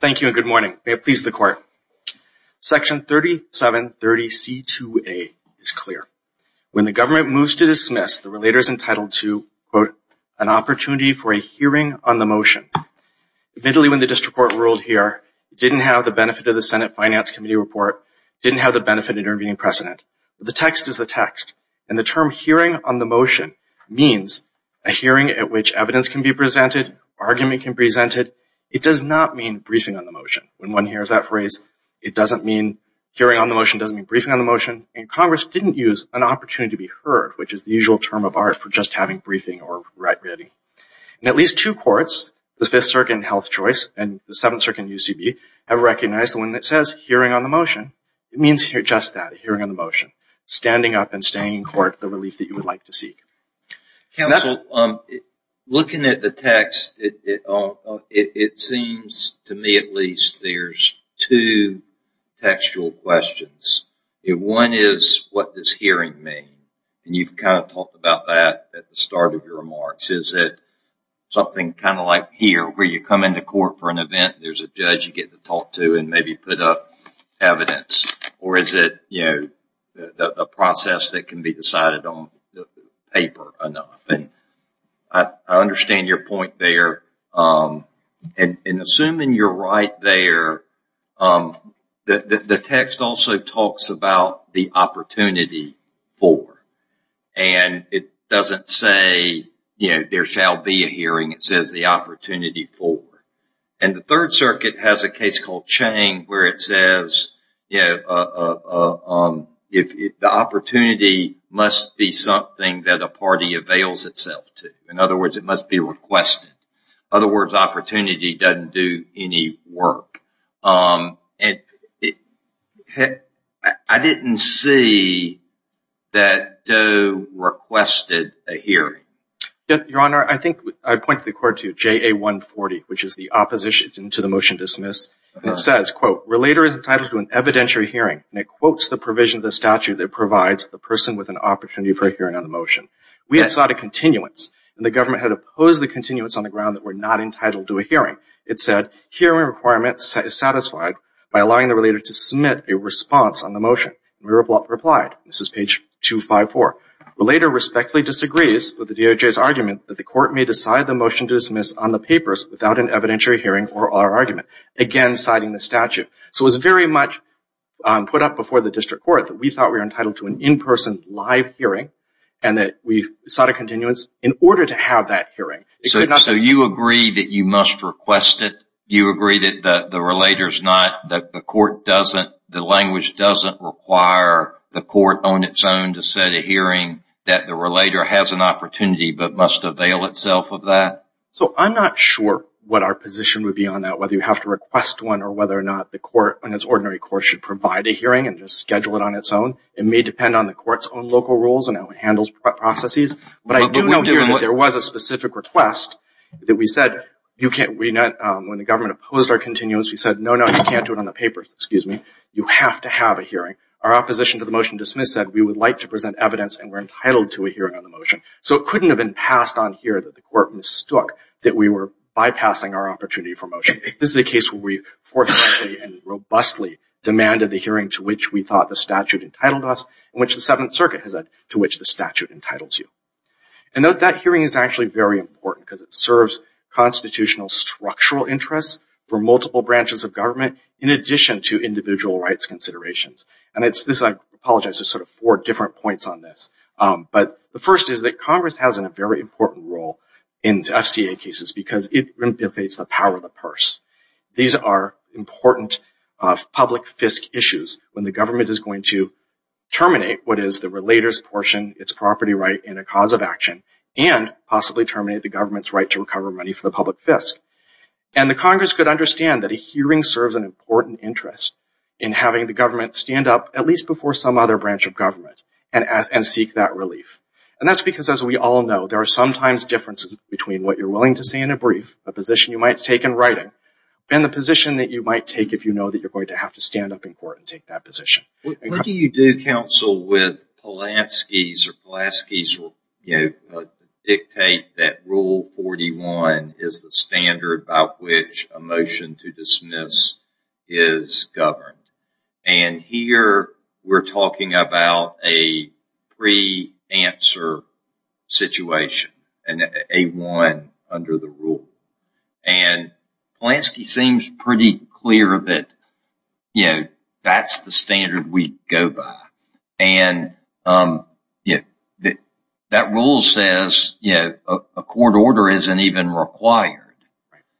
Thank you and good morning. May it please the court. Section 3730C2A is clear. When the government moves to dismiss, the relator is entitled to, quote, an opportunity for a hearing on the motion. Admittedly, when the district court ruled here, it didn't have the benefit of the Senate Finance Committee report, didn't have the benefit of intervening precedent. The text is the text. And the term hearing on the motion means a hearing at which evidence can be presented, argument can be presented. It does not mean briefing on the motion. When one hears that phrase, it doesn't mean hearing on the motion, doesn't mean briefing on the motion. And Congress didn't use an opportunity to be heard, which is the usual term of art for just having briefing or writing. And at least two courts, the Fifth Circuit in Health Choice and the Seventh Circuit in UCB, have recognized the one that says hearing on the motion. It means just that, hearing on the motion, standing up and staying in Counsel, looking at the text, it seems, to me at least, there's two textual questions. One is, what does hearing mean? And you've kind of talked about that at the start of your remarks. Is it something kind of like here, where you come into court for an event, there's a judge you get to talk to and maybe put up evidence? Or is it, you know, a process that can be decided on paper enough? I understand your point there. And assuming you're right there, the text also talks about the opportunity for. And it doesn't say, you know, there shall be a hearing. It says the opportunity for. And the Third Circuit has a case called Chang where it says, you know, the opportunity must be something that a party avails itself to. In other words, it must be requested. In other words, opportunity doesn't do any work. I didn't see that Doe requested a hearing. Your Honor, I think I point the court to JA140, which is the opposition to the motion to dismiss. And it says, quote, Relator is entitled to an evidentiary hearing. And it quotes the provision of the statute that provides the person with an opportunity for a hearing on the motion. We had sought a continuance, and the government had opposed the continuance on the ground that we're not entitled to a hearing. It said, hearing requirement is satisfied by allowing the Relator to submit a response on the motion. And we replied. This is page 254. Relator respectfully disagrees with the without an evidentiary hearing for our argument. Again, citing the statute. So it was very much put up before the District Court that we thought we were entitled to an in-person live hearing, and that we sought a continuance in order to have that hearing. So you agree that you must request it? You agree that the Relator's not, the court doesn't, the language doesn't require the court on its own to set a hearing that the Relator has an opportunity but must avail itself of that? So I'm not sure what our position would be on that, whether you have to request one or whether or not the court, and it's ordinary court, should provide a hearing and just schedule it on its own. It may depend on the court's own local rules and how it handles processes. But I do know here that there was a specific request that we said, you can't, we not, when the government opposed our continuance, we said, no, no, you can't do it on the paper, excuse me. You have to have a hearing. Our opposition to the motion dismissed said, we would like to present evidence and we're entitled to a hearing on the motion. So it couldn't have been passed on here that the court mistook that we were bypassing our opportunity for motion. This is a case where we forcefully and robustly demanded the hearing to which we thought the statute entitled us and which the Seventh Circuit has said to which the statute entitles you. And note that hearing is actually very important because it serves constitutional structural interests for multiple branches of government in addition to individual rights considerations. And it's this, I apologize, there's sort of four different points on this. But the first is that Congress has a very important role in FCA cases because it replicates the power of the purse. These are important public FISC issues when the government is going to terminate what is the relator's portion, its property right, and a cause of action and possibly terminate the government's right to recover money for the public FISC. And the Congress could understand that a hearing serves an important interest in having the government take that relief. And that's because, as we all know, there are sometimes differences between what you're willing to say in a brief, a position you might take in writing, and the position that you might take if you know that you're going to have to stand up in court and take that position. What do you do, counsel, with Pulaski's or Pulaski's dictate that Rule 41 is the standard by which a motion to dismiss is governed? And here we're talking about a pre-answer situation and a one under the rule. And Pulaski seems pretty clear that, you know, that's the standard we go by. And that rule says, you know, a court order isn't even required.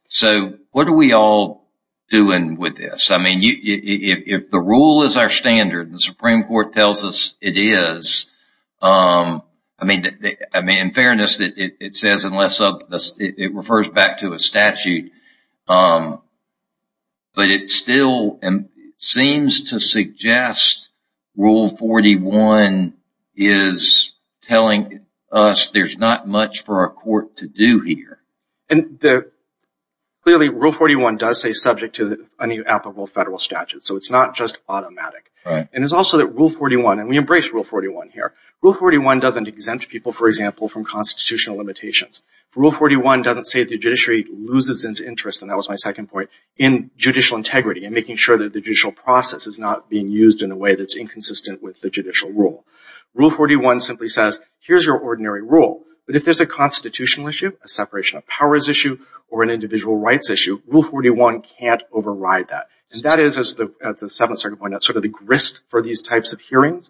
So what are we all doing with this? I mean, if the rule is our standard, the Supreme Court tells us it is. I mean, in fairness, it says unless it refers back to a statute. But it still seems to suggest Rule 41 is telling us there's not much for our court to do here. And clearly, Rule 41 does say subject to an applicable federal statute. So it's not just automatic. And it's also that Rule 41, and we embrace Rule 41 here, Rule 41 doesn't exempt people, for example, from constitutional limitations. Rule 41 doesn't say the judiciary loses its interest, and that was my second point, in judicial integrity and making sure that the judicial process is not being used in a way that's inconsistent with the judicial rule. Rule 41 simply says, here's your ordinary rule. But if there's a constitutional issue, a separation of powers issue, or an individual rights issue, Rule 41 can't override that. And that is, as the Seventh Circuit pointed out, sort of the grist for these types of hearings.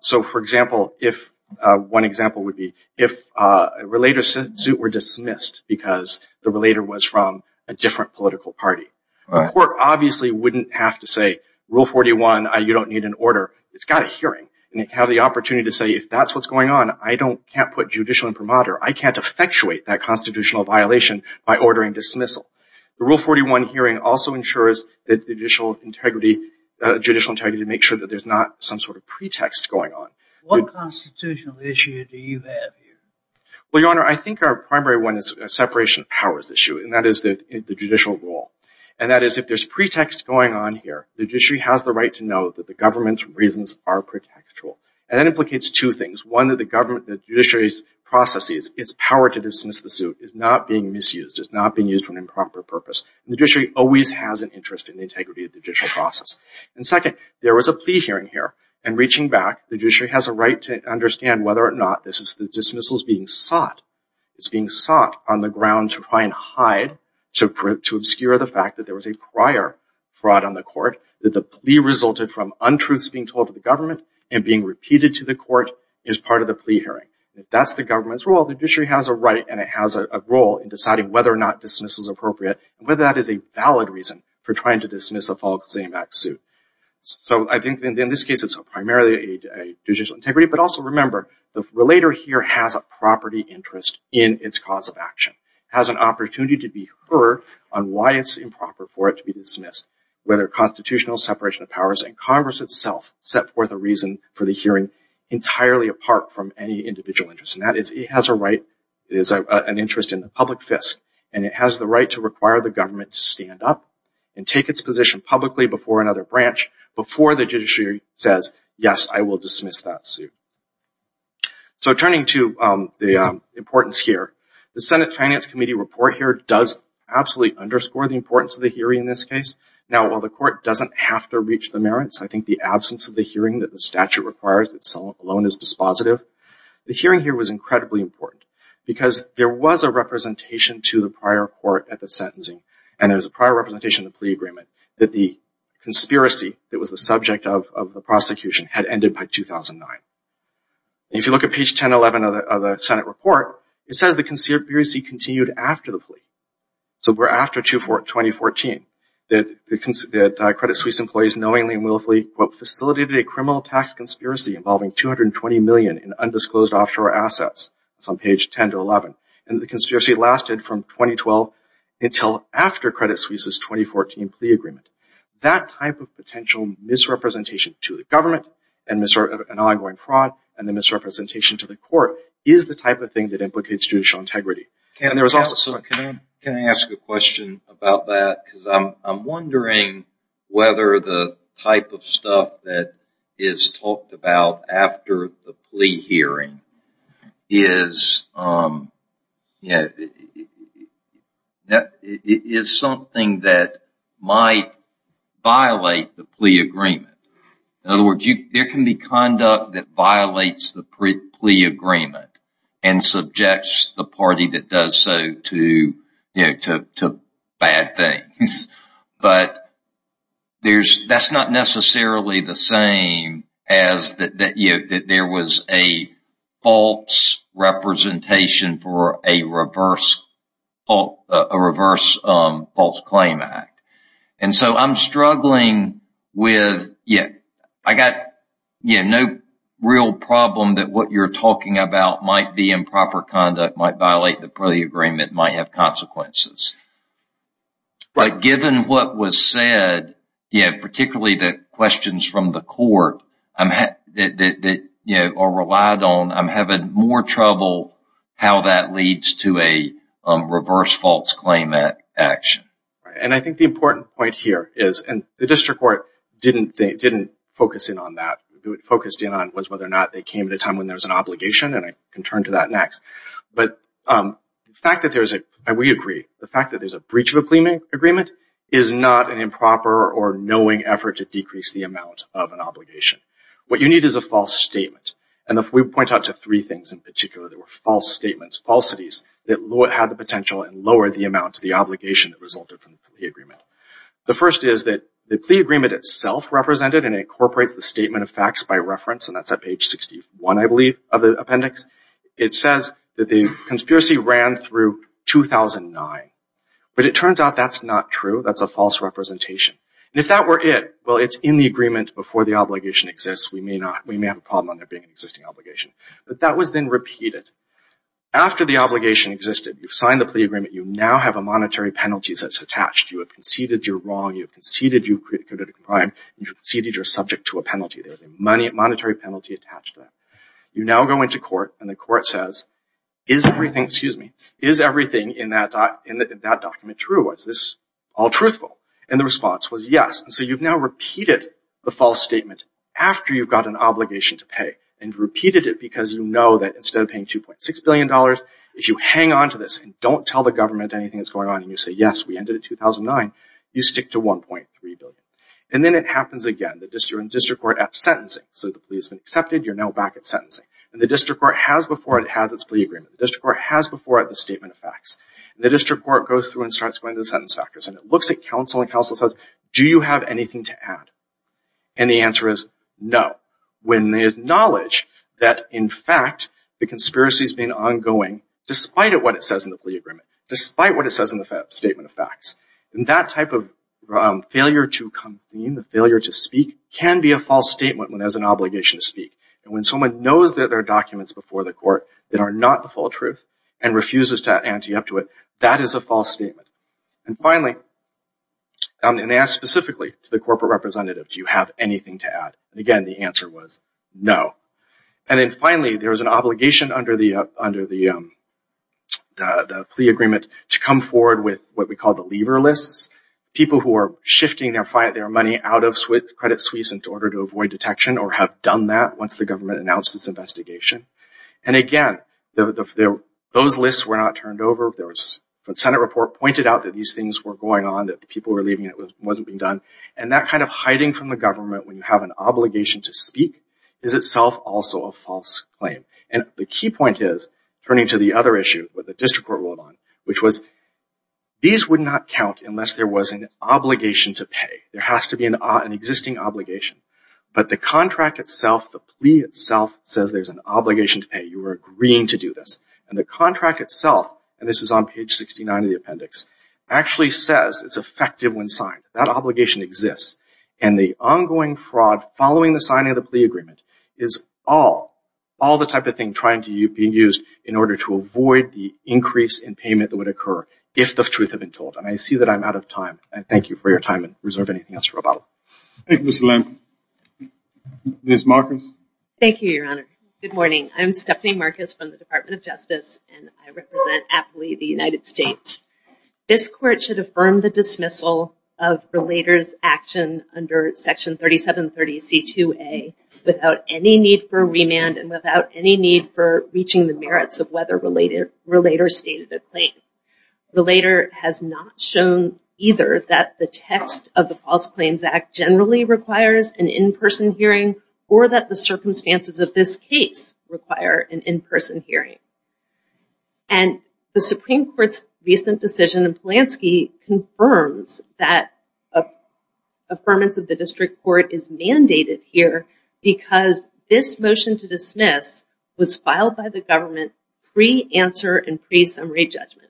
So, for example, if one example would be if a relator's suit were dismissed because the relator was from a different political party, the court obviously wouldn't have to say, Rule 41, you don't need an order. It's got a hearing. And it can have the opportunity to say, if that's what's going on, I can't put judicial imprimatur. I can't effectuate that constitutional violation by ordering dismissal. The Rule 41 hearing also ensures that judicial integrity, judicial integrity, to make sure that there's not some sort of pretext going on. What constitutional issue do you have here? Well, Your Honor, I think our primary one is a separation of powers issue. And that is the judicial rule. And that is, if there's pretext going on here, the judiciary has the right to know that the government's reasons are pretextual. And that implicates two things. One, that the government, the judiciary's processes, its power to dismiss the suit is not being misused. It's not being used for an improper purpose. And the judiciary always has an interest in the integrity of the judicial process. And second, there was a plea hearing here. And reaching back, the judiciary has a right to understand whether or not this is the dismissals being sought. It's being sought on the ground to try and hide, to obscure the fact that there was a prior fraud on the court, that the plea resulted from untruths being told to the government and being repeated to the court as part of the plea hearing. If that's the government's role, the judiciary has a right and it has a role in deciding whether or not dismissal is appropriate, and whether that is a valid reason for trying to dismiss a Fall Exam Act suit. So I think in this case, it's primarily a judicial integrity, but also remember, the relator here has a property interest in its cause of action, has an opportunity to be heard on why it's improper for it to be dismissed, whether constitutional separation of powers and Congress itself set forth a reason for the hearing entirely apart from any individual interest. And that is, it has a right, it is an interest in the public fist, and it has the right to require the government to stand up and take its position publicly before another branch before the judiciary says, yes, I will dismiss that suit. So turning to the importance here, the Senate Finance Committee report here does absolutely underscore the importance of the hearing in this case. Now, while the court doesn't have to reach the merits, I think the absence of the hearing that the statute requires itself alone is dispositive. The hearing here was incredibly important because there was a representation to the prior court at the sentencing, and there was a prior representation of the plea agreement that the conspiracy that was the subject of the prosecution had ended by 2009. And if you look at page 1011 of the Senate report, it says the conspiracy continued after the plea. So we're after 2014, that Credit Suisse employees knowingly and willfully, quote, facilitated a criminal tax conspiracy involving $220 million in undisclosed offshore assets. It's on page 10 to 11. And the conspiracy lasted from 2012 until after Credit Suisse's 2014 plea agreement. That type of potential misrepresentation to the government and ongoing fraud and the misrepresentation to the court is the type of thing that implicates judicial integrity. Can I ask a question about that? Because I'm wondering whether the type of stuff that is talked about after the plea hearing is something that is not just a matter of the court's conduct, but something that might violate the plea agreement. In other words, there can be conduct that violates the plea agreement and subjects the party that does so to bad things. But that's not necessarily the same as that there was a false representation for a reverse false claim act. And so I'm struggling with, I got no real problem that what you're talking about might be improper conduct, might violate the plea agreement, might have consequences. But given what was said, particularly the questions from the court that are relied on, I'm having more trouble how that leads to a reverse false claim act action. And I think the important point here is, and the district court didn't focus in on that, focused in on whether or not they came at a time when there was an obligation, and I can turn to that next. But the fact that there is a, and we agree, the fact that there is a breach of a plea agreement is not an improper or knowing effort to decrease the amount of things in particular that were false statements, falsities, that had the potential and lowered the amount of the obligation that resulted from the plea agreement. The first is that the plea agreement itself represented and incorporates the statement of facts by reference, and that's at page 61, I believe, of the appendix. It says that the conspiracy ran through 2009. But it turns out that's not true. That's a false representation. And if that were it, well, it's in the agreement before the obligation exists. We may not, we may have a problem on there being an existing obligation. But that was then repeated. After the obligation existed, you've signed the plea agreement, you now have a monetary penalty that's attached. You have conceded you're wrong, you've conceded you've committed a crime, you've conceded you're subject to a penalty. There's a monetary penalty attached to that. You now go into court and the court says, is everything, excuse me, is everything in that document true? Is this all truthful? And the response was yes. And so you've now And repeated it because you know that instead of paying $2.6 billion, if you hang onto this and don't tell the government anything that's going on, and you say, yes, we ended in 2009, you stick to $1.3 billion. And then it happens again. You're in district court at sentencing. So the plea's been accepted, you're now back at sentencing. And the district court has before it, it has its plea agreement. The district court has before it the statement of facts. And the district court goes through and starts going through the sentence factors. And it looks at counsel and counsel says, do you have anything to add? And the answer is no. When there's knowledge that, in fact, the conspiracy's been ongoing despite what it says in the plea agreement, despite what it says in the statement of facts. And that type of failure to convene, the failure to speak, can be a false statement when there's an obligation to speak. And when someone knows that there are documents before the court that are not the full truth and refuses to ante up to it, that is a false statement. And finally, and they ask specifically to the corporate representative, do you have anything to add? And again, the answer was no. And then finally, there was an obligation under the plea agreement to come forward with what we call the lever lists. People who are shifting their money out of Credit Suisse in order to avoid detection or have done that once the government announced its investigation. And again, those lists were not turned over. The Senate report pointed out that these things were going on, that the people were leaving and it wasn't being done. And that kind of hiding from the government when you have an obligation to speak is itself also a false claim. And the key point is, turning to the other issue, what the district court ruled on, which was these would not count unless there was an obligation to pay. There has to be an existing obligation. But the contract itself, the plea itself, says there's an obligation to pay. You are agreeing to do this. And the contract itself, and this is on page 69 of the appendix, actually says it's effective when signed. That obligation exists. And the ongoing fraud following the signing of the plea agreement is all the type of thing trying to be used in order to avoid the increase in payment that would occur if the truth had been told. And I see that I'm out of time. I thank you for your time and reserve anything else for rebuttal. Thank you, Mr. Lamkin. Ms. Marcus? Thank you, Your Honor. Good morning. I'm Stephanie Marcus from the Department of Justice, and I represent aptly the United States. This court should affirm the dismissal of Relator's action under Section 3730C2A without any need for remand and without any need for reaching the merits of whether Relator stated a claim. Relator has not shown either that the text of the False Claims Act generally requires an in-person hearing or that the circumstances of this case require an in-person hearing. And the Supreme Court's recent decision in Polanski confirms that affirmance of the district court is mandated here because this motion to dismiss was filed by the government pre-answer and pre-summary judgment.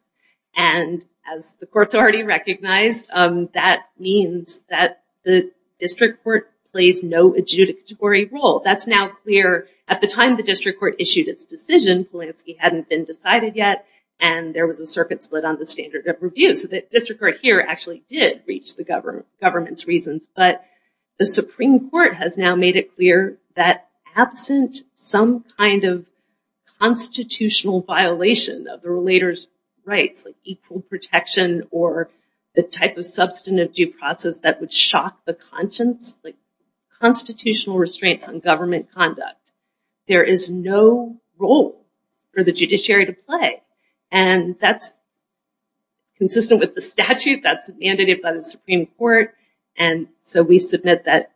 And as the courts already recognized, that means that the district court plays no adjudicatory role. That's now clear. At the time the district court issued its decision, Polanski hadn't been decided yet and there was a circuit split on the standard of review. So the district court here actually did reach the government's reasons. But the Supreme Court has now made it clear that absent some kind of constitutional violation of the Relator's rights, like equal protection or the type of substantive due process that would shock the conscience, like constitutional restraints on government conduct, there is no role for the judiciary to play. And that's consistent with the statute that's mandated by the Supreme Court. And so we submit that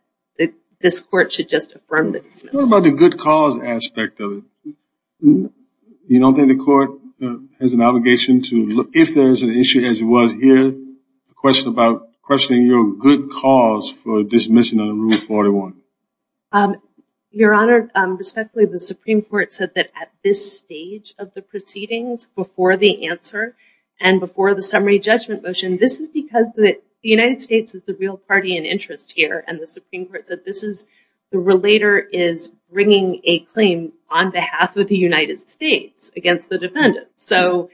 this court should just affirm the dismissal. What about the good cause aspect of it? You don't think the court has an obligation to, if there's an issue as it was here, the question about questioning your good cause for dismissing of Rule 41? Your Honor, respectfully, the Supreme Court said that at this stage of the proceedings, before the answer and before the summary judgment motion, this is because the United States is the real party in interest here and the Supreme Court said this is, the Relator is bringing a claim on behalf of the United States against the defendant. So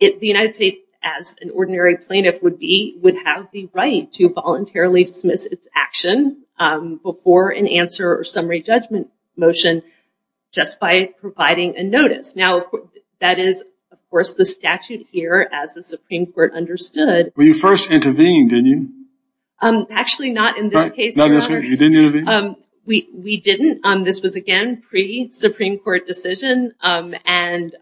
the United States, as an ordinary plaintiff would be, would have the right to voluntarily dismiss its action before an answer or summary judgment motion just by providing a notice. Now, that is, of course, the statute here as the Supreme Court understood. Well, you first intervened, didn't you? Actually, not in this case, Your Honor. You didn't intervene? We didn't. This was, again, pre-Supreme Court decision and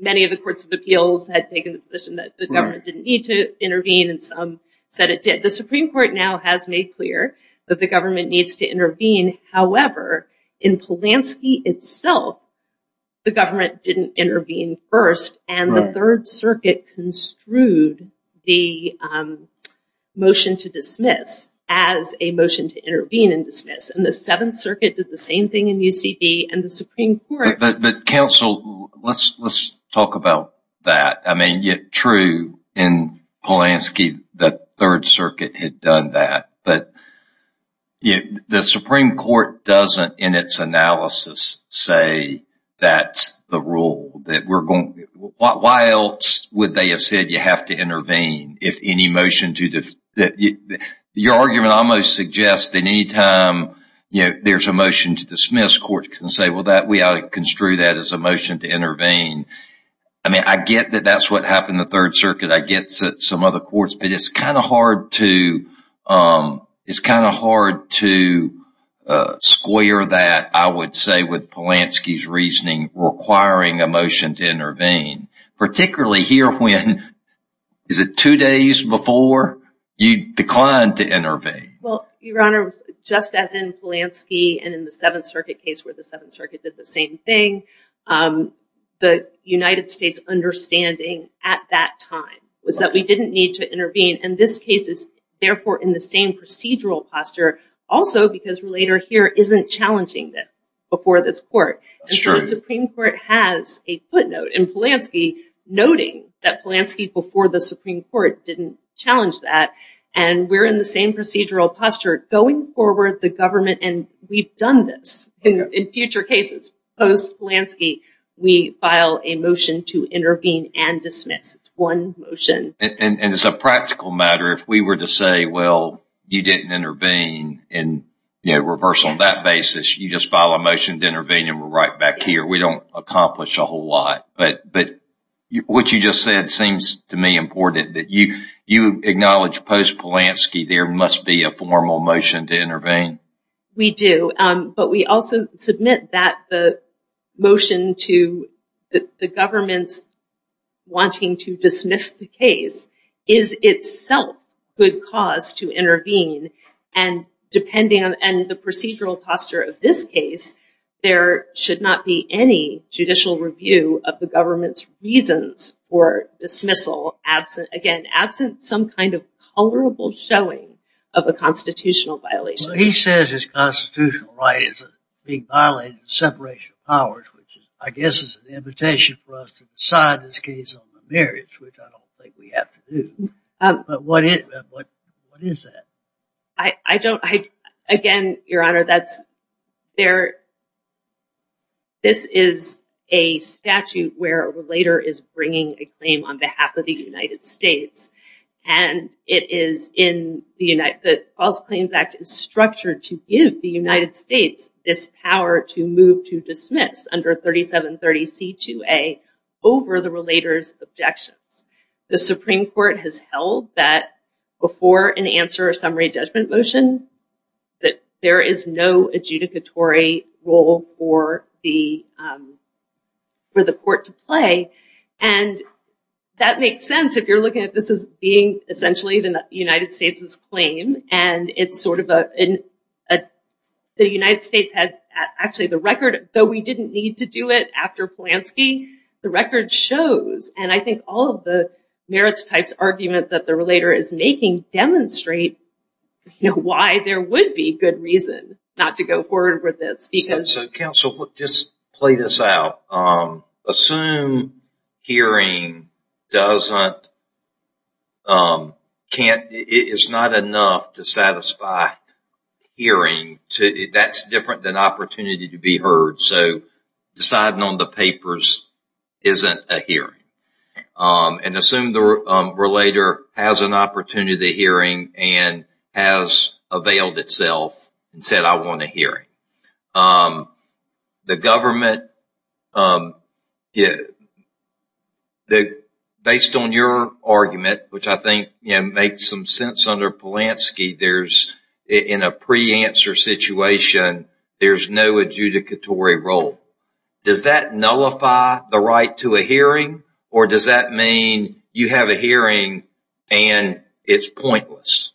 many of the courts of appeals had taken the position that the government didn't need to intervene and some said it did. The Supreme Court now has made clear that the government needs to intervene. However, in Polanski itself, the government didn't intervene first and the Third Circuit construed the motion to dismiss as a motion to intervene and dismiss and the Seventh Circuit did the same thing in UCB and the Supreme Court. But counsel, let's talk about that. I mean, true, in Polanski, the Third Circuit had done that, but the Supreme Court doesn't, in its analysis, say that's the rule. Why else would they have said you have to intervene? Your argument almost suggests that any time there's a motion to dismiss, courts can say, well, we ought to construe that as a motion to intervene. I mean, I get that that's what happened in the Third Circuit. I get some other courts, but it's kind of hard to square that, I would say, with Polanski's reasoning requiring a motion to intervene, particularly here when, is it two days before, you declined to intervene. Well, Your Honor, just as in Polanski and in the Seventh Circuit case where the Seventh Circuit did the same thing, the United States understanding at that time was that we didn't need to intervene and this case is therefore in the same procedural posture also because Relator here isn't challenging this before this court. The Supreme Court has a footnote in Polanski noting that Polanski before the Supreme Court didn't challenge that and we're in the same procedural posture going forward, the government, and we've done this in future cases. Post-Polanski, we file a motion to intervene and dismiss. It's one motion. And as a practical matter, if we were to say, well, you didn't intervene and reverse on that basis, you just file a motion to intervene and we're right back here. We don't accomplish a whole lot. But what you just said seems to me important, that you acknowledge post-Polanski, there must be a formal motion to intervene. We do, but we also submit that the motion to the government's wanting to dismiss the case is itself good cause to intervene and depending on the procedural posture of this case, there should not be any judicial review of the government's reasons for dismissal, again, absent some kind of honorable showing of a constitutional violation. He says his constitutional right is being violated in separation of powers, which I guess is an invitation for us to decide this case on the merits, which I don't think we have to do, but what is that? Again, Your Honor, this is a statute where a relator is bringing a claim on behalf of the United States and it is in the False Claims Act is structured to give the United States this power to move to dismiss under 3730C2A over the relator's objections. The Supreme Court has held that before an answer or summary judgment motion, that there is no adjudicatory role for the court to play and that makes sense if you're looking at this as being essentially the United States' claim and it's sort of a, the United States had actually the record, though we didn't need to do it after Polanski, the record shows and I think all of the merits types argument that the relator is making demonstrate, you know, why there would be good reason not to go forward with So counsel, just play this out. Assume hearing doesn't, can't, it's not enough to satisfy hearing, that's different than opportunity to be heard, so deciding on the papers isn't a hearing. And assume the relator has an opportunity to hearing and has availed itself and said I want a hearing. The government, based on your argument, which I think makes some sense under Polanski, there's, in a pre-answer situation, there's no adjudicatory role. Does that nullify the right to a hearing or does that mean you have a hearing and it's pointless?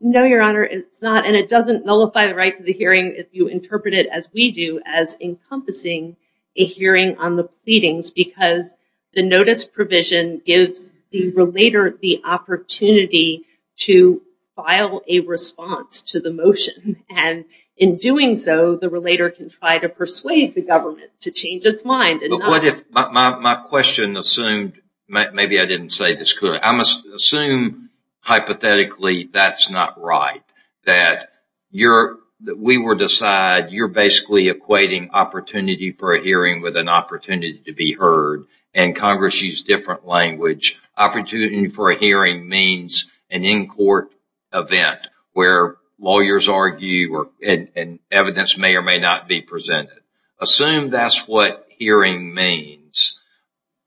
No, your honor, it's not, and it doesn't nullify the right to the hearing if you interpret it as we do as encompassing a hearing on the pleadings because the notice provision gives the relator the opportunity to file a response to the motion and in doing so, the relator can try to persuade the government to change its mind. But what if my question assumed, maybe I didn't say this clearly, I must assume hypothetically that's not right, that we were to decide you're basically equating opportunity for a hearing with an opportunity to be heard and Congress used different language. Opportunity for a hearing means an in-court event where lawyers argue and evidence may or may not be presented. Assume that's what hearing means.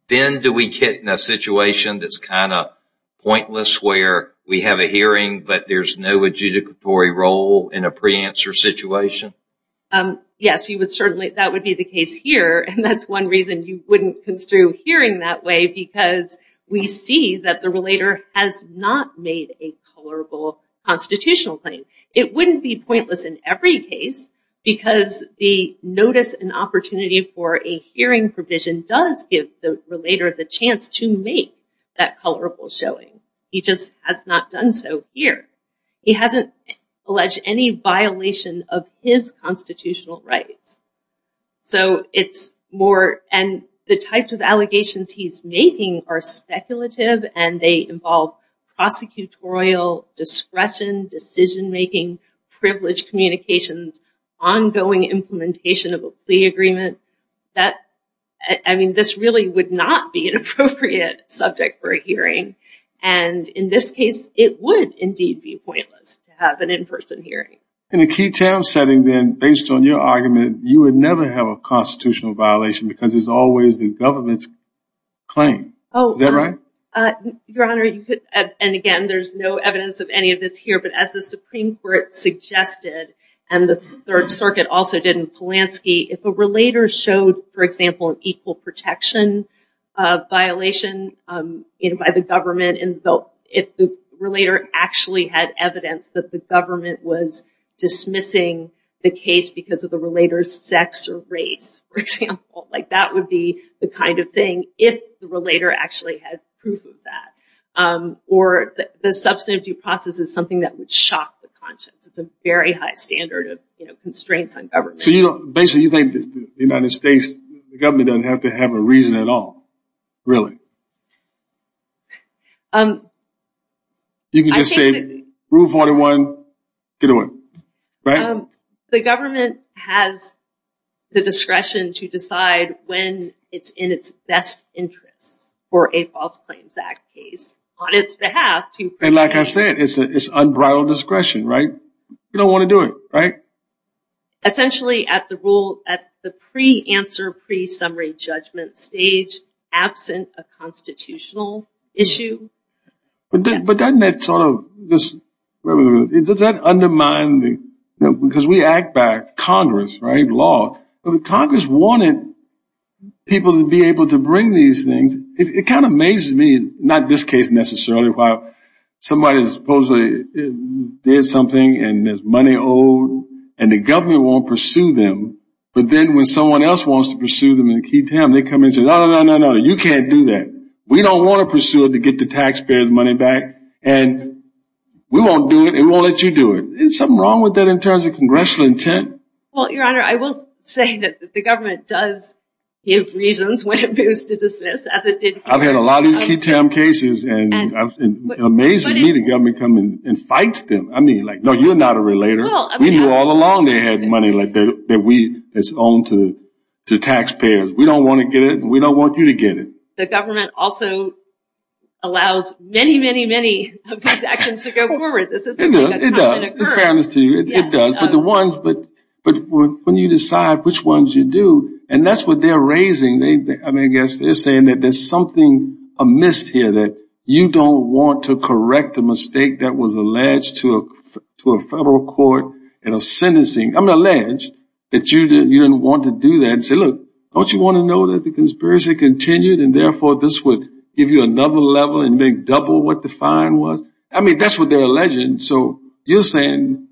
Then do we get in a situation that's kind of pointless where we have a hearing but there's no adjudicatory role in a pre-answer situation? Yes, you would certainly, that would be the case here and that's one reason you wouldn't construe hearing that way because we see that the relator has not made a tolerable constitutional claim. It wouldn't be pointless in every case because the notice and opportunity for a hearing provision does give the relator the chance to make that tolerable showing. He just has not done so here. He hasn't alleged any violation of his constitutional rights. So, it's more and the types of allegations he's making are speculative and they involve prosecutorial discretion, decision-making, privilege communications, ongoing implementation of a plea agreement, that I mean this really would not be an appropriate subject for a hearing and in this case it would indeed be pointless to have an in-person hearing. In a key term setting then based on your argument you would never have a constitutional violation because it's always the And again there's no evidence of any of this here but as the Supreme Court suggested and the Third Circuit also did in Polanski, if a relator showed for example an equal protection violation by the government and if the relator actually had evidence that the government was dismissing the case because of the relator's sex or race, for example, like that would be the kind of thing if the relator actually had proof of that or the substantive due process is something that would shock the conscience. It's a very high standard of constraints on government. So, you know basically you think the United States government doesn't have to have a reason at all, really? You can just say rule 41 get away, right? The government has the discretion to decide when it's in its best interests for a false claims act case on its behalf. And like I said it's unbridled discretion, right? You don't want to do it, right? Essentially at the rule at the pre-answer pre-summary judgment stage absent a constitutional issue. But doesn't that sort of, does that undermine, because we act by Congress, right, law, but Congress wanted people to be able to bring these things. It kind of amazes me, not this case necessarily, while somebody supposedly did something and there's money owed and the government won't pursue them but then when someone else wants to pursue them in a key We don't want to pursue it to get the taxpayers money back and we won't do it, it won't let you do it. There's something wrong with that in terms of congressional intent. Well, your honor, I will say that the government does give reasons when it moves to dismiss as it did. I've had a lot of these key time cases and it amazes me the government come in and fights them. I mean like no you're not a relator. We knew all along they had money like that we it's owned to the taxpayers. We don't want to get it and we don't want you to get it. The government also allows many, many, many of these actions to go forward. It does, it's fairness to you, it does. But the ones, but when you decide which ones you do and that's what they're raising, I mean I guess they're saying that there's something amiss here that you don't want to correct a mistake that was alleged to a federal court and a sentencing. I'm alleged that you didn't want to do that and say look don't you want to know that the conspiracy continued and therefore this would give you another level and make double what the fine was. I mean that's what they're alleging. So you're saying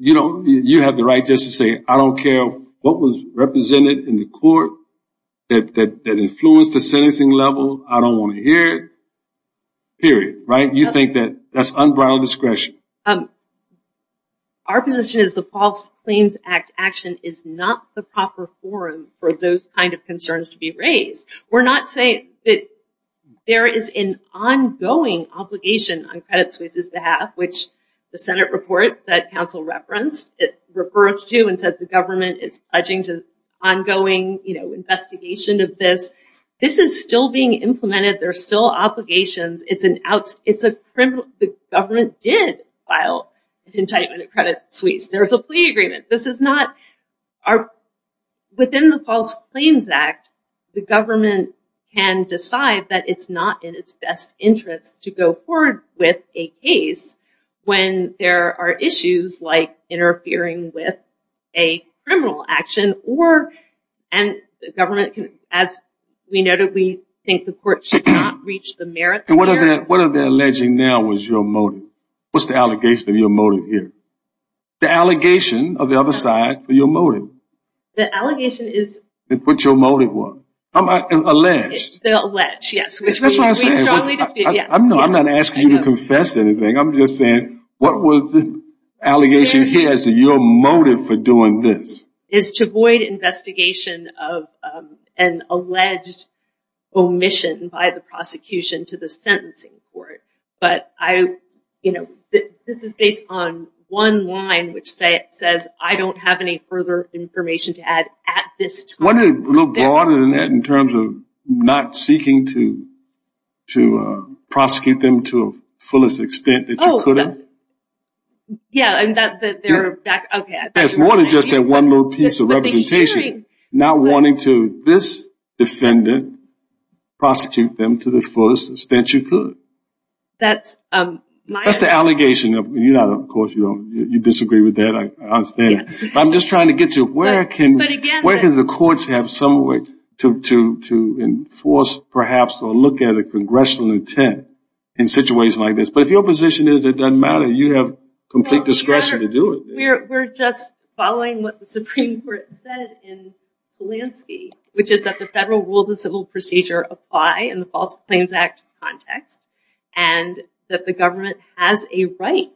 you don't, you have the right just to say I don't care what was represented in the court that influenced the sentencing level, I don't want to hear it. Period, right? You think that that's unbridled discretion. Our position is the False Claims Act action is not the proper forum for those kind of concerns to be raised. We're not saying that there is an ongoing obligation on Credit Suisse's behalf which the Senate report that counsel referenced, it refers to and said the government is pledging to ongoing, you know, investigation of this. This is still being implemented, there's still file of indictment at Credit Suisse. There's a plea agreement. This is not our, within the False Claims Act, the government can decide that it's not in its best interest to go forward with a case when there are issues like interfering with a criminal action or and the government can, as we noted, we think the court should not reach the merits. What are they alleging now was your motive? What's the allegation of your motive here? The allegation of the other side for your motive. The allegation is... What's your motive was? Alleged. Alleged, yes. I'm not asking you to confess anything. I'm just saying what was the allegation here as to your motive for doing this? Is to avoid investigation of an alleged omission by the prosecution to the sentencing court. But I, you know, this is based on one line which says I don't have any further information to add at this time. A little broader than that in terms of not seeking to to prosecute them to the fullest extent that you could have. Yeah, and that they're back, okay. It's more than just that one little piece of representation. Not wanting to this defendant prosecute them to the fullest extent you could. That's my... That's the allegation of, you know, of course you don't, you disagree with that. I understand. I'm just trying to get to where can the courts have some way to enforce perhaps or look at a congressional intent in situations like this. But if your position is it doesn't matter, you have complete discretion to do it. We're just following what the Supreme Court said in Polanski, which is that the federal rules and civil procedure apply in the False Claims Act context. And that the government has a right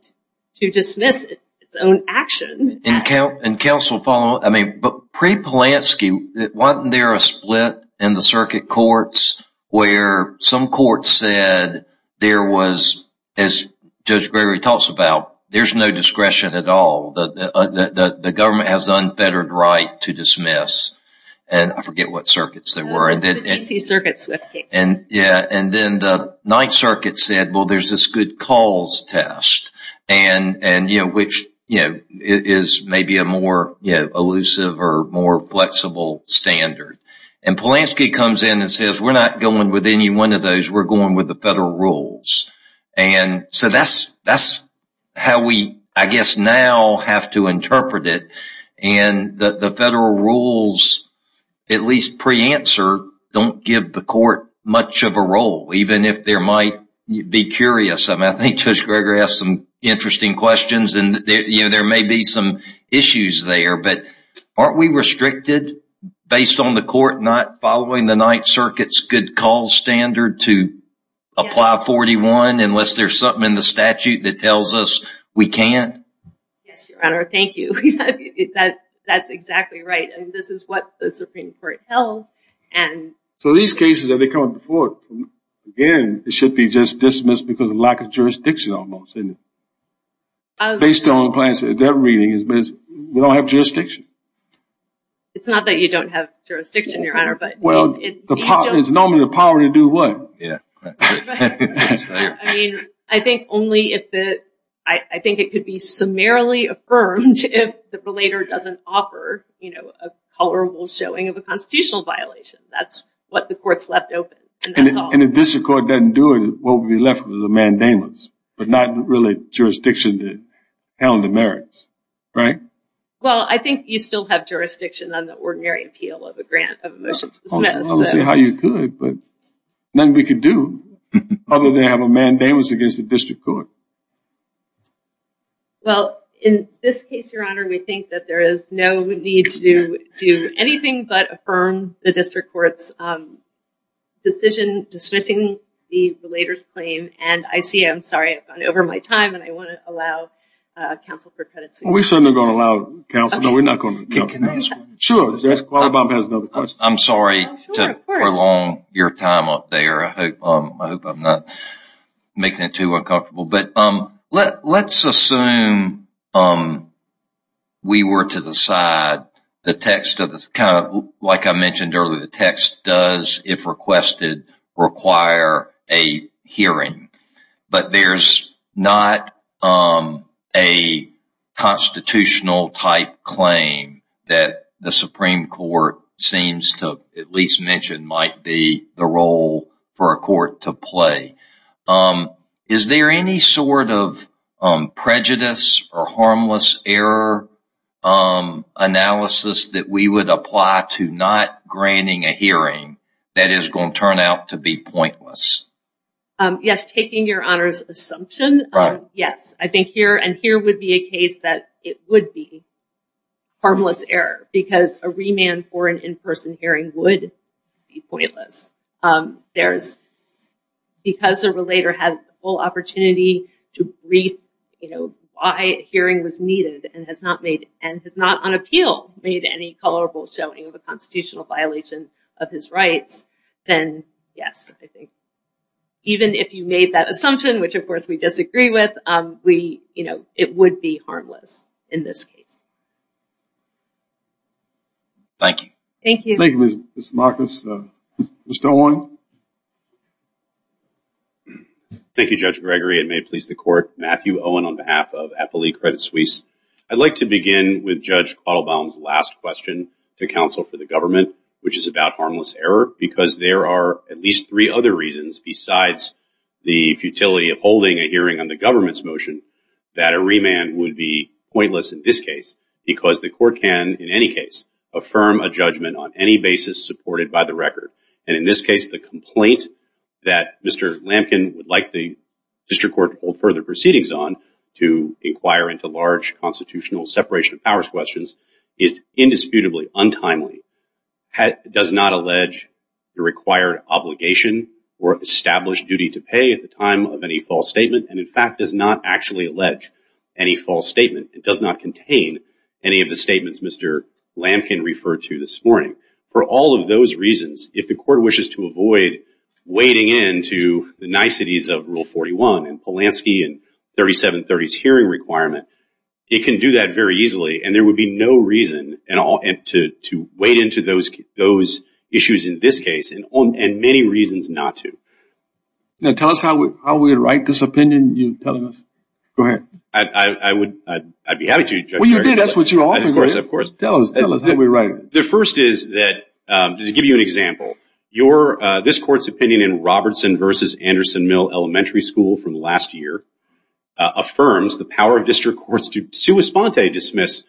to dismiss its own action. And counsel follow, I mean, but pre-Polanski, wasn't there a split in the circuit courts where some courts said there was, as Judge Gregory talks about, there's no discretion at all. The government has unfettered right to dismiss. And I forget what circuits they were. Yeah, and then the Ninth Circuit said, well, there's this good calls test. And, you know, which is maybe a more elusive or more flexible standard. And Polanski comes in and says, we're not going with any one of those. We're going with the federal rules. And so that's how we, I guess, now have to interpret it. And the federal rules, at least pre-answer, don't give the court much of a role, even if there might be curious. I mean, I think Judge Gregory has some interesting questions and there may be some issues there. But aren't we restricted based on the court not following the Ninth Circuit's good call standard to apply 41 unless there's something in the statute that tells us we can't? Yes, Your Honor. Thank you. That's exactly right. And this is what the Supreme Court held. So these cases, have they come up before? Again, it should be just dismissed because of lack of jurisdiction almost, isn't it? Based on the plans that they're reading, we don't have jurisdiction. It's not that you don't have jurisdiction, Your Honor, but... It's normally the power to do what? Yeah, that's right. I mean, I think it could be summarily affirmed if the relator doesn't offer a colorable showing of a constitutional violation. That's what the court's left open, and that's all. And if this court doesn't do it, what would be left would be the mandamus, but not really jurisdiction to handle the merits, right? Well, I think you still have jurisdiction on the ordinary appeal of a grant of a motion to dismiss. I don't see how you could, but nothing we could do other than have a mandamus against the district court. Well, in this case, Your Honor, we think that there is no need to do anything but affirm the district court's decision dismissing the relator's claim. And I see, I'm sorry, I've gone over my time, and I want to allow counsel for credits. We certainly aren't going to allow counsel. No, we're not going to allow counsel. Sure. Mr. Qualabong has another question. I'm sorry to prolong your time up there. I hope I'm not making it too uncomfortable. But let's assume we were to decide the text of this kind of, like I mentioned earlier, the text does, if requested, require a hearing. But there's not a constitutional-type claim that the Supreme Court seems to at least mention might be the role for a court to play. Is there any sort of prejudice or harmless error analysis that we would apply to not granting a hearing that is going to turn out to be pointless? Yes, taking Your Honor's assumption, yes. I think here, and here would be a case that it would be harmless error, because a remand for an in-person hearing would be pointless. Because a relator had the full opportunity to brief why a hearing was needed and has not on appeal made any colorful showing of a constitutional violation of his rights, then yes, I think, even if you made that assumption, which of course we disagree with, it would be harmless in this case. Thank you. Thank you. Thank you, Ms. Marcus. Mr. Owen. Thank you, Judge Gregory. It may please the Court. Matthew Owen on behalf of Eppley Credit Suisse. I'd like to begin with Judge Qualabong's last question to counsel for the government, which is about harmless error, because there are at least three other reasons besides the futility of holding a hearing on the government's motion that a remand would be pointless in this case, because the court can, in any case, affirm a judgment on any basis supported by the record. And in this case, the complaint that Mr. Lampkin would like the district court to hold further proceedings on to inquire into large constitutional separation powers questions is indisputably untimely, does not allege the required obligation or established duty to pay at the time of any false statement, and in fact, does not actually allege any false statement. It does not contain any of the statements Mr. Lampkin referred to this morning. For all of those reasons, if the court wishes to avoid wading into the niceties of Rule XIII, and there would be no reason at all to wade into those issues in this case, and many reasons not to. Now, tell us how we write this opinion you're telling us. Go ahead. I'd be happy to. Well, you did. That's what you offered. Of course. Of course. Tell us. Tell us how we write it. The first is that, to give you an example, this court's opinion in Robertson v. Anderson Mill Elementary School from last year affirms the power of district courts to sua sponte dismiss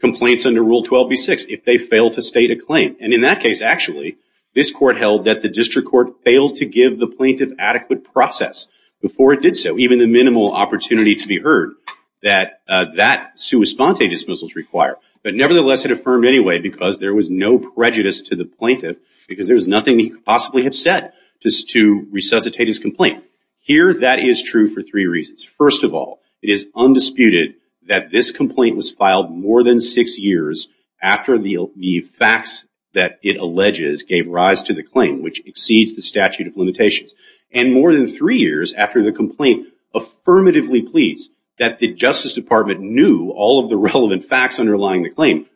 complaints under Rule XII v. VI if they fail to state a claim. And in that case, actually, this court held that the district court failed to give the plaintiff adequate process before it did so, even the minimal opportunity to be heard that that sua sponte dismissals require. But nevertheless, it affirmed anyway, because there was no prejudice to the plaintiff, because there was nothing he could possibly have said to resuscitate his complaint. Here, that is true for three reasons. First of all, it is undisputed that this complaint was filed more than six years after the facts that it alleges gave rise to the claim, which exceeds the statute of limitations, and more than three years after the complaint affirmatively pleads that the Justice Department knew all of the relevant facts underlying the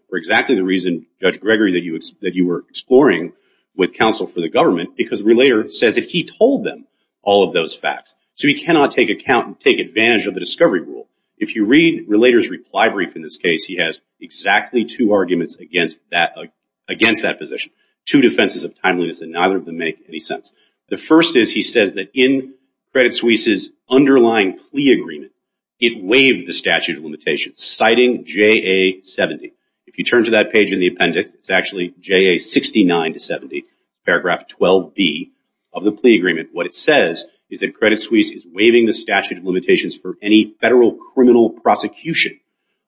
with counsel for the government, because Relater says that he told them all of those facts. So he cannot take account and take advantage of the discovery rule. If you read Relater's reply brief in this case, he has exactly two arguments against that position, two defenses of timeliness, and neither of them make any sense. The first is he says that in Credit Suisse's underlying plea agreement, it waived the statute of limitations, citing JA 70. If you turn to that page in the paragraph 12B of the plea agreement, what it says is that Credit Suisse is waiving the statute of limitations for any federal criminal prosecution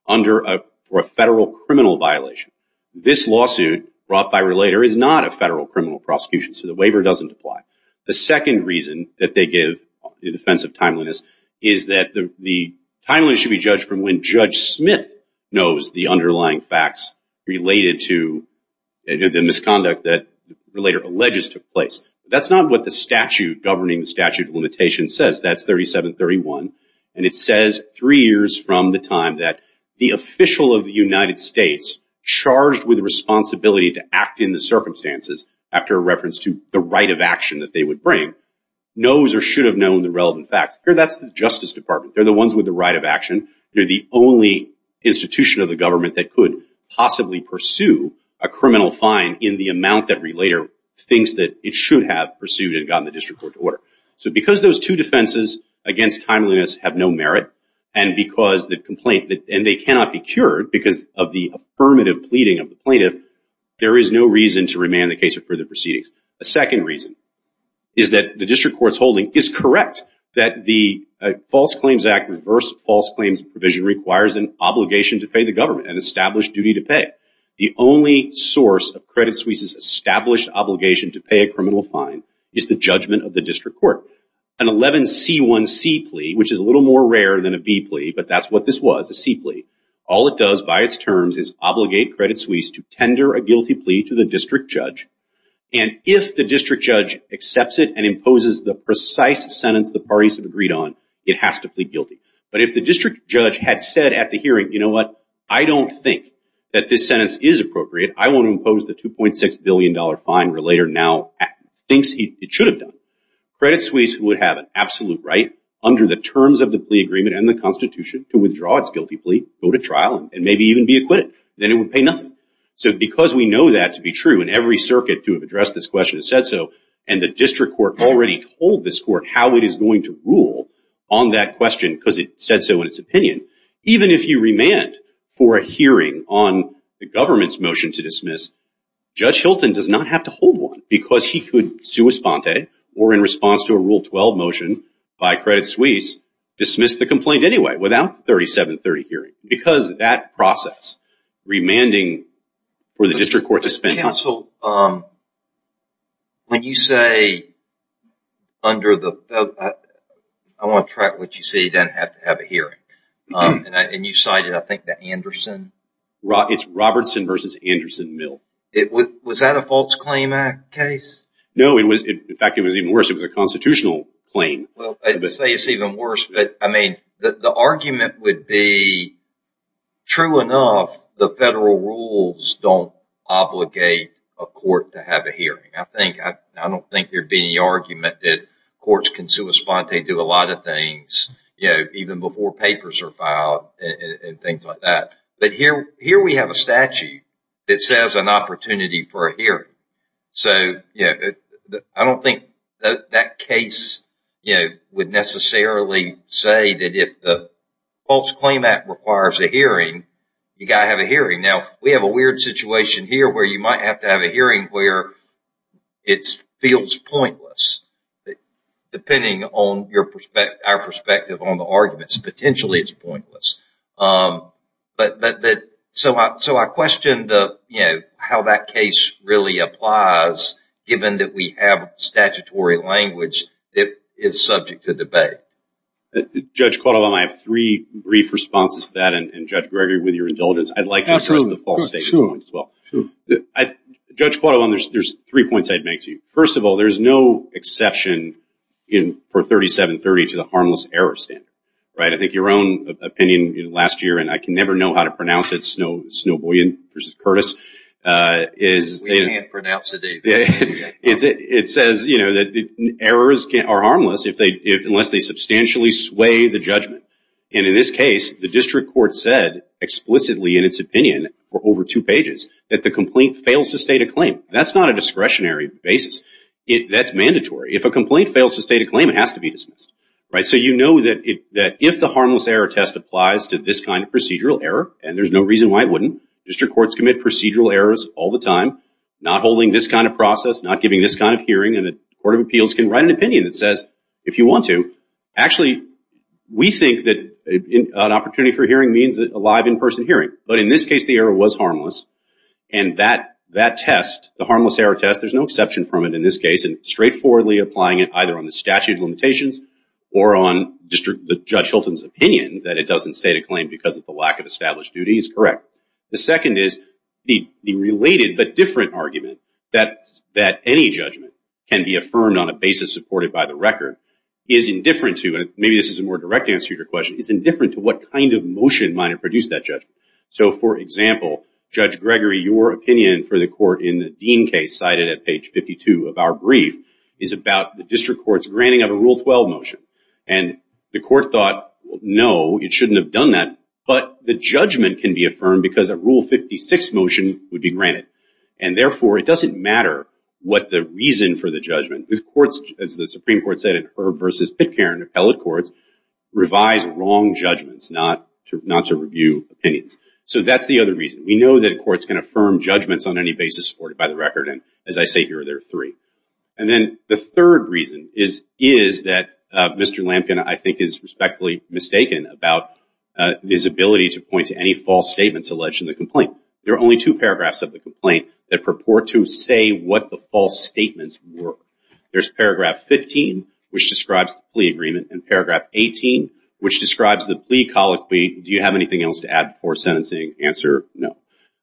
for a federal criminal violation. This lawsuit brought by Relater is not a federal criminal prosecution, so the waiver doesn't apply. The second reason that they give in defense of timeliness is that the timeliness should be judged from when Judge Smith knows the underlying facts related to the misconduct that Relater alleges took place. That's not what the statute governing the statute of limitations says, that's 3731, and it says three years from the time that the official of the United States charged with responsibility to act in the circumstances, after reference to the right of action that they would bring, knows or should have known the relevant facts. That's the Justice of the United States. They're the only institution of the government that could possibly pursue a criminal fine in the amount that Relater thinks that it should have pursued and gotten the district court to order. So because those two defenses against timeliness have no merit, and because the complaint, and they cannot be cured because of the affirmative pleading of the plaintiff, there is no reason to remand the case for further proceedings. The second reason is that the district court's holding is correct that the False Claims Act reverse false claims provision requires an obligation to pay the government, an established duty to pay. The only source of Credit Suisse's established obligation to pay a criminal fine is the judgment of the district court. An 11C1C plea, which is a little more rare than a B plea, but that's what this was, a C plea, all it does by its terms is obligate Credit Suisse to tender a guilty plea to the district judge, and if the district judge accepts it and imposes the precise sentence the parties have agreed on, it has to plead guilty. But if the district judge had said at the hearing, you know what, I don't think that this sentence is appropriate, I want to impose the $2.6 billion fine Relater now thinks it should have done, Credit Suisse would have an absolute right under the terms of the plea agreement and the Constitution to withdraw its guilty plea, go to trial, and maybe even be acquitted, then it would pay nothing. So because we know that to be true, and every circuit to have addressed this question has said so, and the district court already told this court how it is going to rule on that question because it said so in its opinion, even if you remand for a hearing on the government's motion to dismiss, Judge Hilton does not have to hold one because he could sui sponte, or in response to a 12-12 motion by Credit Suisse, dismiss the complaint anyway without the 3730 hearing. Because that process, remanding for the district court to spend time Counsel, when you say under the, I want to track what you say, you don't have to have a hearing, and you cited I think the Anderson It's Robertson versus Anderson-Mill It was, was that a false claim act case? No, it was, in fact, it was even worse. It was a constitutional claim. Well, I'd say it's even worse, but I mean, the argument would be, true enough, the federal rules don't obligate a court to have a hearing. I think, I don't think there'd be any argument that courts can sui sponte do a lot of things, you know, even before papers are filed and things like that. But here, here we have a statute that says an opportunity for a hearing. So, you know, I don't think that case, you know, would necessarily say that if the false claim act requires a hearing, you got to have a hearing. Now, we have a weird situation here where you might have to have a hearing where it feels pointless, depending on your perspective, our perspective on the arguments, potentially it's pointless. But, but, but so I, so I questioned the, you know, how that case really applies, given that we have statutory language that is subject to debate. Judge Quattlebaum, I have three brief responses to that. And Judge Gregory, with your indulgence, I'd like to address the false statements as well. Judge Quattlebaum, there's, there's three points I'd make to you. First of all, there's no exception in, for 3730 to the harmless error standard, right? I think your own opinion last year, and I can never know how to pronounce it, Snowboyan versus Curtis, is... We can't pronounce it. It says, you know, that errors are harmless if they, unless they substantially sway the judgment. And in this case, the district court said explicitly in its opinion, or over two pages, that the complaint fails to state a claim. That's not a discretionary basis. That's mandatory. If a complaint fails to state a claim, it has to be dismissed, right? So you know that if the harmless error test applies to this kind of procedural error, and there's no reason why it wouldn't. District courts commit procedural errors all the time, not holding this kind of process, not giving this kind of hearing. And the Court of Appeals can write an opinion that says, if you want to. Actually, we think that an opportunity for hearing means a live in-person hearing. But in this case, the error was harmless. And that, that test, the harmless error test, there's no exception from it in this case. And straightforwardly applying it either on the statute of limitations or on the Judge Hilton's opinion that it doesn't state a claim because of the lack of established duty is correct. The second is the related but different argument that any judgment can be affirmed on a basis supported by the record is indifferent to, and maybe this is a more direct answer to your question, is indifferent to what kind of motion might have produced that judgment. So for example, Judge Gregory, your opinion for the court in the Dean case, cited at page 52 of our brief, is about the district courts granting of a Rule 12 motion. And the court thought, no, it shouldn't have done that. But the judgment can be affirmed because a Rule 56 motion would be granted. And therefore, it doesn't matter what the reason for the judgment. The courts, as the Supreme Court said in Herb versus Pitcairn appellate courts, revise wrong judgments not to review opinions. So that's the other reason. We know that courts can affirm judgments on any basis supported by the record. And as I say here, there are three. And then the third reason is that Mr. Lampkin, I think, is respectfully mistaken about his ability to point to any false statements alleged in the complaint. There are only two paragraphs of the complaint that purport to say what the false statements were. There's paragraph 15, which describes the plea agreement, and paragraph 18, which describes the plea colloquy. Do you have anything else to add before sentencing? Answer, no.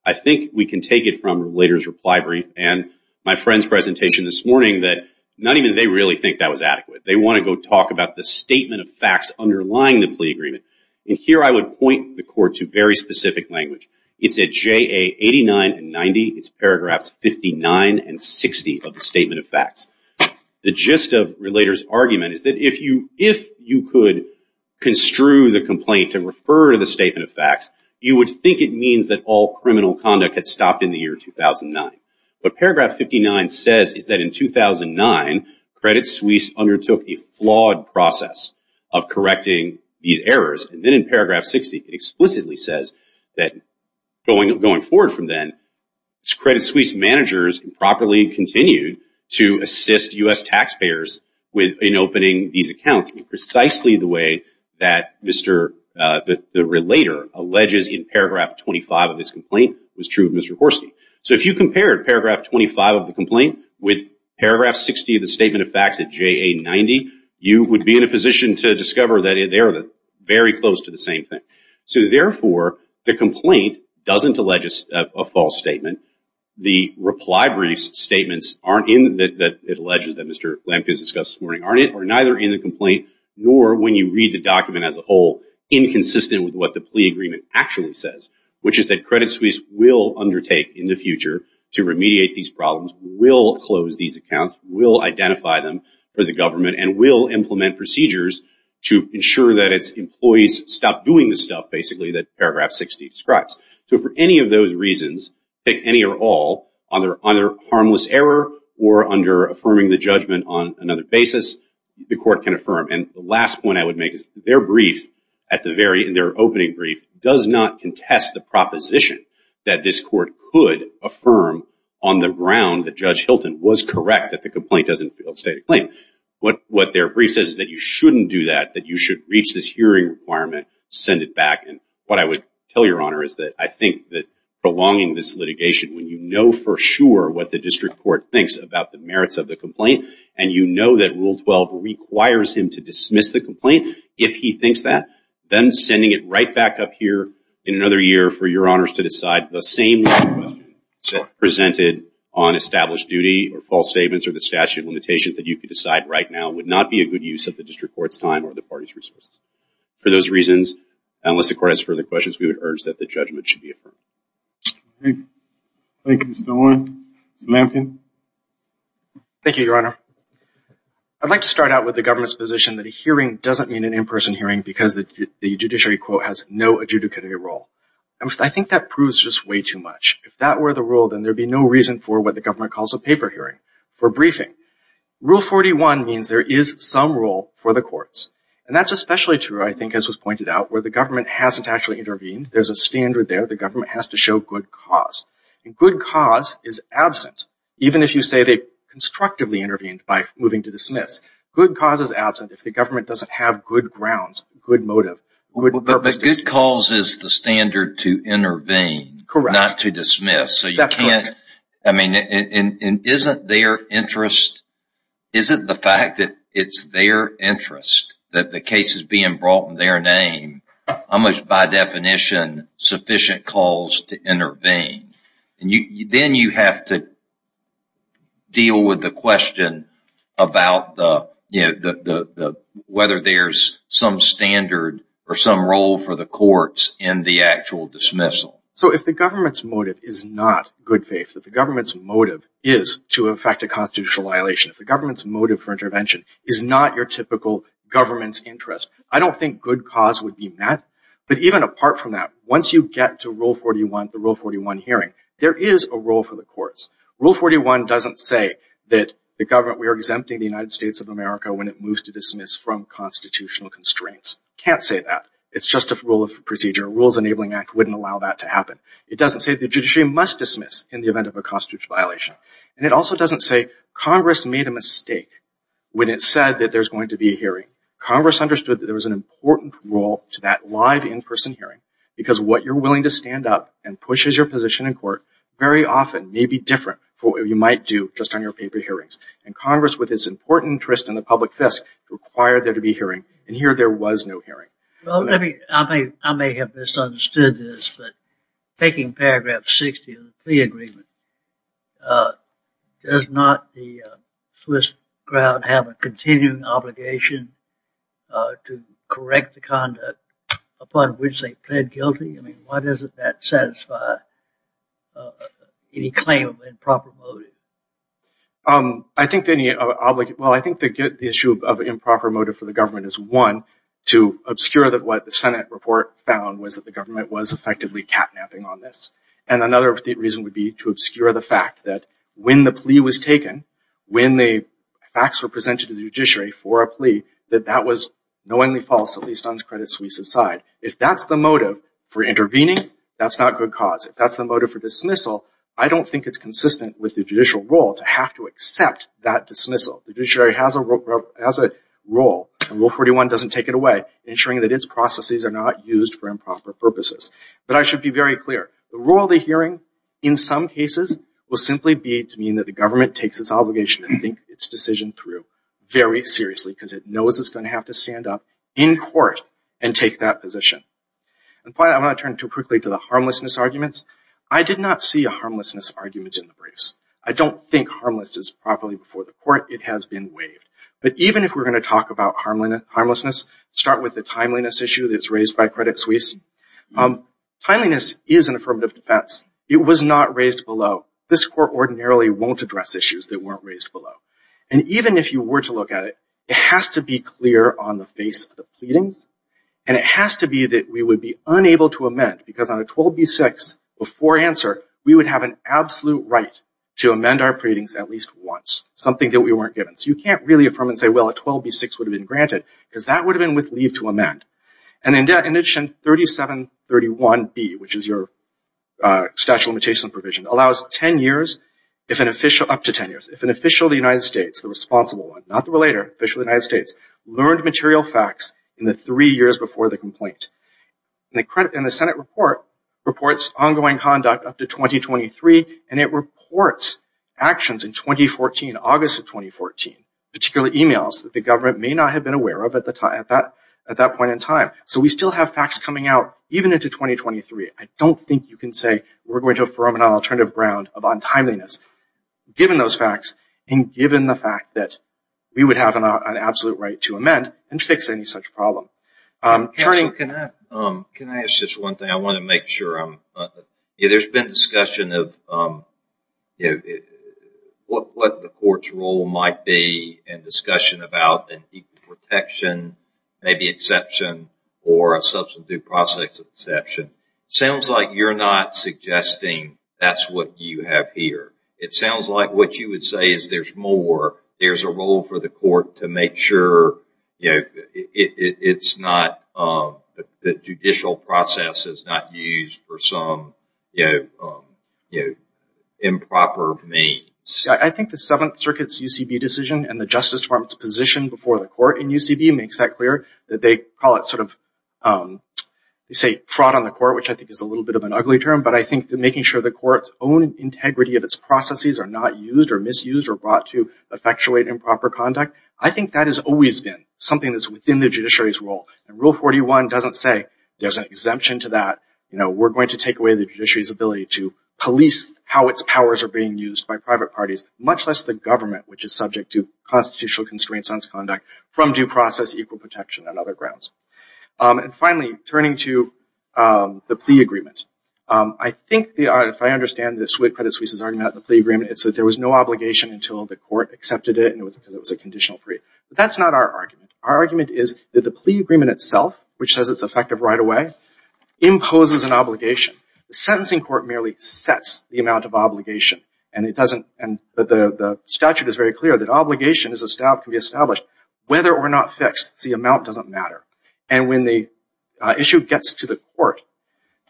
I think we can take it from Lader's reply brief. And my friend's presentation this morning, that not even they really think that was adequate. They want to go talk about the statement of facts underlying the plea agreement. And here I would point the court to very specific language. It's at JA 89 and 90. It's paragraphs 59 and 60 of the statement of facts. The gist of Lader's argument is that if you could construe the complaint and refer to the statement of facts, you would think it means that all criminal conduct had stopped in the year 2009. But paragraph 59 says is that in 2009, Credit Suisse undertook a flawed process of correcting these errors. And then in paragraph 60, it explicitly says that going forward from then, Credit Suisse managers improperly continued to assist U.S. taxpayers in opening these accounts, precisely the way that Mr. Lader alleges in paragraph 25 of his complaint was true of Mr. Horstee. So if you compared paragraph 25 of the complaint with paragraph 60 of the statement of facts at JA 90, you would be in a position to discover that they're very close to the same thing. So therefore, the complaint doesn't allege a false statement. The reply briefs statements aren't in, that it alleges that Mr. Lampkin discussed this morning, aren't either in the complaint, nor when you read the document as a whole, inconsistent with what the plea agreement actually says, which is that Credit Suisse will undertake in the future to remediate these problems, will close these accounts, will identify them for the government, and will implement procedures to ensure that its employees stop doing the stuff basically that paragraph 60 describes. So for any of those reasons, pick any or all, either harmless error or under affirming the judgment on another basis, the court can affirm. And the last point I would make is their brief, at the very, in their opening brief, does not contest the proposition that this court could affirm on the ground that Judge Hilton was correct that the complaint doesn't fail to state a claim. What their brief says is that you shouldn't do that, that you should reach this hearing requirement, send it back. And what I would tell your honor is that I think that prolonging this litigation, when you know for sure what the district court thinks about the merits of the complaint, and you know that Rule 12 requires him to dismiss the complaint, if he thinks that, then sending it right back up here in another year for your honors to decide the same question presented on established duty, or false statements, or the statute of limitations that you could decide right now would not be a good use of the district court's time or the party's resources. For those reasons, unless the court has further questions, we would urge that the judgment should be affirmed. Thank you, Mr. Owen. Mr. Lamkin. Thank you, your honor. I'd like to start out with the government's position that a hearing doesn't mean an in-person hearing because the judiciary quote has no adjudicatory role. I think that proves just way too much. If that were the rule, then there'd be no reason for what the government calls a paper hearing, for briefing. Rule 41 means there is some role for the courts. And that's especially true, I think, as was pointed out, where the government hasn't actually intervened. There's a standard there. The government has to show good cause. And good cause is absent, even if you say they constructively intervened by moving to dismiss. Good cause is absent if the government doesn't have good grounds, good motive, good purposes. But good cause is the standard to intervene, not to dismiss. So you can't, I mean, isn't their interest, isn't the fact that it's their interest that the case is being brought in their name, almost by definition sufficient cause to intervene. And then you have to deal with the question about whether there's some standard or some role for the courts in the actual dismissal. So if the government's motive is not good faith, that the government's motive is to effect a constitutional violation, if the government's motive for intervention is not your typical government's interest, I don't think good cause would be met. But even apart from that, once you get to Rule 41, the Rule 41 hearing, there is a role for the courts. Rule 41 doesn't say that the government, we are exempting the United States of America when it moves to dismiss from constitutional constraints. Can't say that. It's just a rule of procedure. Rules Enabling Act wouldn't allow that to happen. It doesn't say the judiciary must dismiss in the event of a constitutional violation. And it also doesn't say Congress made a mistake when it said that there's going to be a hearing. Congress understood that there was an important role to that live in-person hearing because what you're willing to stand up and push as your position in court very often may be different from what you might do just on your paper hearings. And Congress, with its important interest in the public fisc, required there to be a hearing. And here there was no hearing. Well, I may have misunderstood this, but taking paragraph 60 of the plea agreement, does not the Swiss crowd have a continuing obligation to correct the conduct upon which they pled guilty? I mean, why doesn't that satisfy any claim of improper motive? Well, I think the issue of improper motive for the government is one, to obscure that what the Senate report found was that the government was effectively catnapping on this. And another reason would be to obscure the fact that when the plea was taken, when the facts were presented to the judiciary for a plea, that that was knowingly false, at least on the Credit Suisse's side. If that's the motive for intervening, that's not good cause. If that's the motive for dismissal, I don't think it's consistent with the judicial role to have to accept that dismissal. The judiciary has a role, and Rule 41 doesn't take it away, ensuring that its processes are not used for improper purposes. But I should be very clear, the rule of the hearing, in some cases, will simply be to mean that the government takes its obligation to think its decision through very seriously, because it knows it's going to have to stand up in court and take that position. And finally, I'm going to turn too quickly to the harmlessness arguments. I did not see a harmlessness argument in the briefs. I don't think harmless is properly before the court. It has been waived. But even if we're going to talk about harmlessness, start with the timeliness issue that's raised by Credit Suisse. Timeliness is an affirmative defense. It was not raised below. This court ordinarily won't address issues that weren't raised below. And even if you were to look at it, and it has to be that we would be unable to amend, because on a 12b-6, before answer, we would have an absolute right to amend our pleadings at least once, something that we weren't given. So you can't really affirm and say, well, a 12b-6 would have been granted, because that would have been with leave to amend. And in addition, 3731b, which is your statute of limitations and provision, allows up to 10 years if an official of the United States, the responsible one, not the relator, official of the United States, learned material facts in the three years before the complaint. And the Senate report reports ongoing conduct up to 2023, and it reports actions in 2014, August of 2014, particularly emails that the government may not have been aware of at that point in time. So we still have facts coming out even into 2023. I don't think you can say, we're going to affirm an alternative ground of untimeliness given those facts and given the fact that we would have an absolute right to amend and fix any such problem. Attorney, can I ask just one thing? I want to make sure I'm... There's been discussion of what the court's role might be in discussion about an equal protection, maybe exception or a substantive process exception. Sounds like you're not suggesting that's what you have here. It sounds like what you would say is there's more. There's a role for the court to make sure, you know, it's not the judicial process is not used for some improper means. I think the Seventh Circuit's UCB decision and the Justice Department's position before the court in UCB makes that clear that they call it sort of, they say fraud on the court, which I think is a little bit of an ugly term. But I think making sure the court's own integrity of its processes are not used or misused or brought to effectuate improper conduct. I think that has always been something that's within the judiciary's role. And Rule 41 doesn't say there's an exemption to that. You know, we're going to take away the judiciary's ability to police how its powers are being used by private parties, much less the government, which is subject to constitutional constraints on its conduct from due process, equal protection, and other grounds. And finally, turning to the plea agreement. I think if I understand this, with Credit Suisse's argument of the plea agreement, it's that there was no obligation until the court accepted it because it was a conditional plea. But that's not our argument. Our argument is that the plea agreement itself, which says it's effective right away, imposes an obligation. The sentencing court merely sets the amount of obligation. And the statute is very clear that obligation can be established whether or not fixed. It's the amount doesn't matter. And when the issue gets to the court,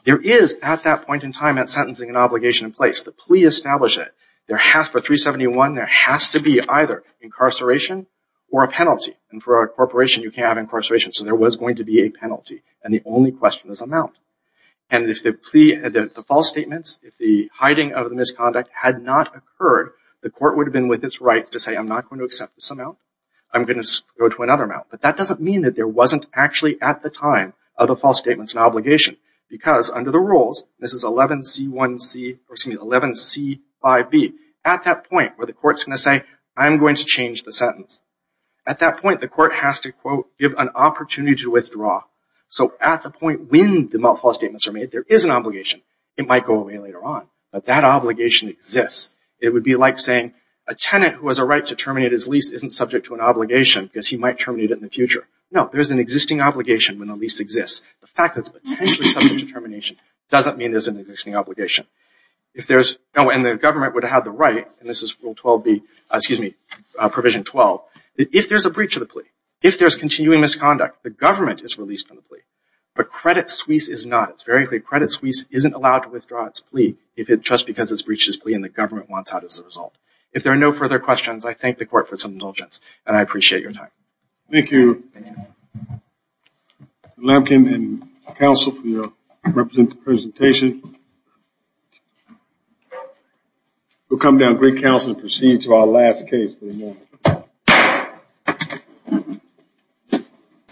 there is, at that point in time, that sentencing and obligation in place. The plea established it. For 371, there has to be either, incarceration or a penalty. And for a corporation, you can't have incarceration. So there was going to be a penalty. And the only question is amount. And if the plea, the false statements, if the hiding of the misconduct had not occurred, the court would have been with its rights to say, I'm not going to accept this amount. I'm going to go to another amount. But that doesn't mean that there wasn't actually, at the time, other false statements and obligation. Because under the rules, this is 11C1C, or excuse me, 11C5B. At that point where the court's going to say, I'm going to change the sentence. At that point, the court has to, quote, give an opportunity to withdraw. So at the point when the false statements are made, there is an obligation. It might go away later on. But that obligation exists. It would be like saying, a tenant who has a right to terminate his lease isn't subject to an obligation because he might terminate it in the future. No, there's an existing obligation when the lease exists. The fact that it's potentially subject to termination doesn't mean there's an existing obligation. If there's, and the government would have the right, and this is Rule 12B, excuse me, Provision 12, if there's a breach of the plea, if there's continuing misconduct, the government is released from the plea. But credit suisse is not. It's very clear credit suisse isn't allowed to withdraw its plea if it, just because it's breached its plea and the government wants out as a result. If there are no further questions, I thank the court for its indulgence. And I appreciate your time. Thank you, Mr. Lemkin and counsel for your representative presentation. We'll come down, great counsel, and proceed to our last case for the morning.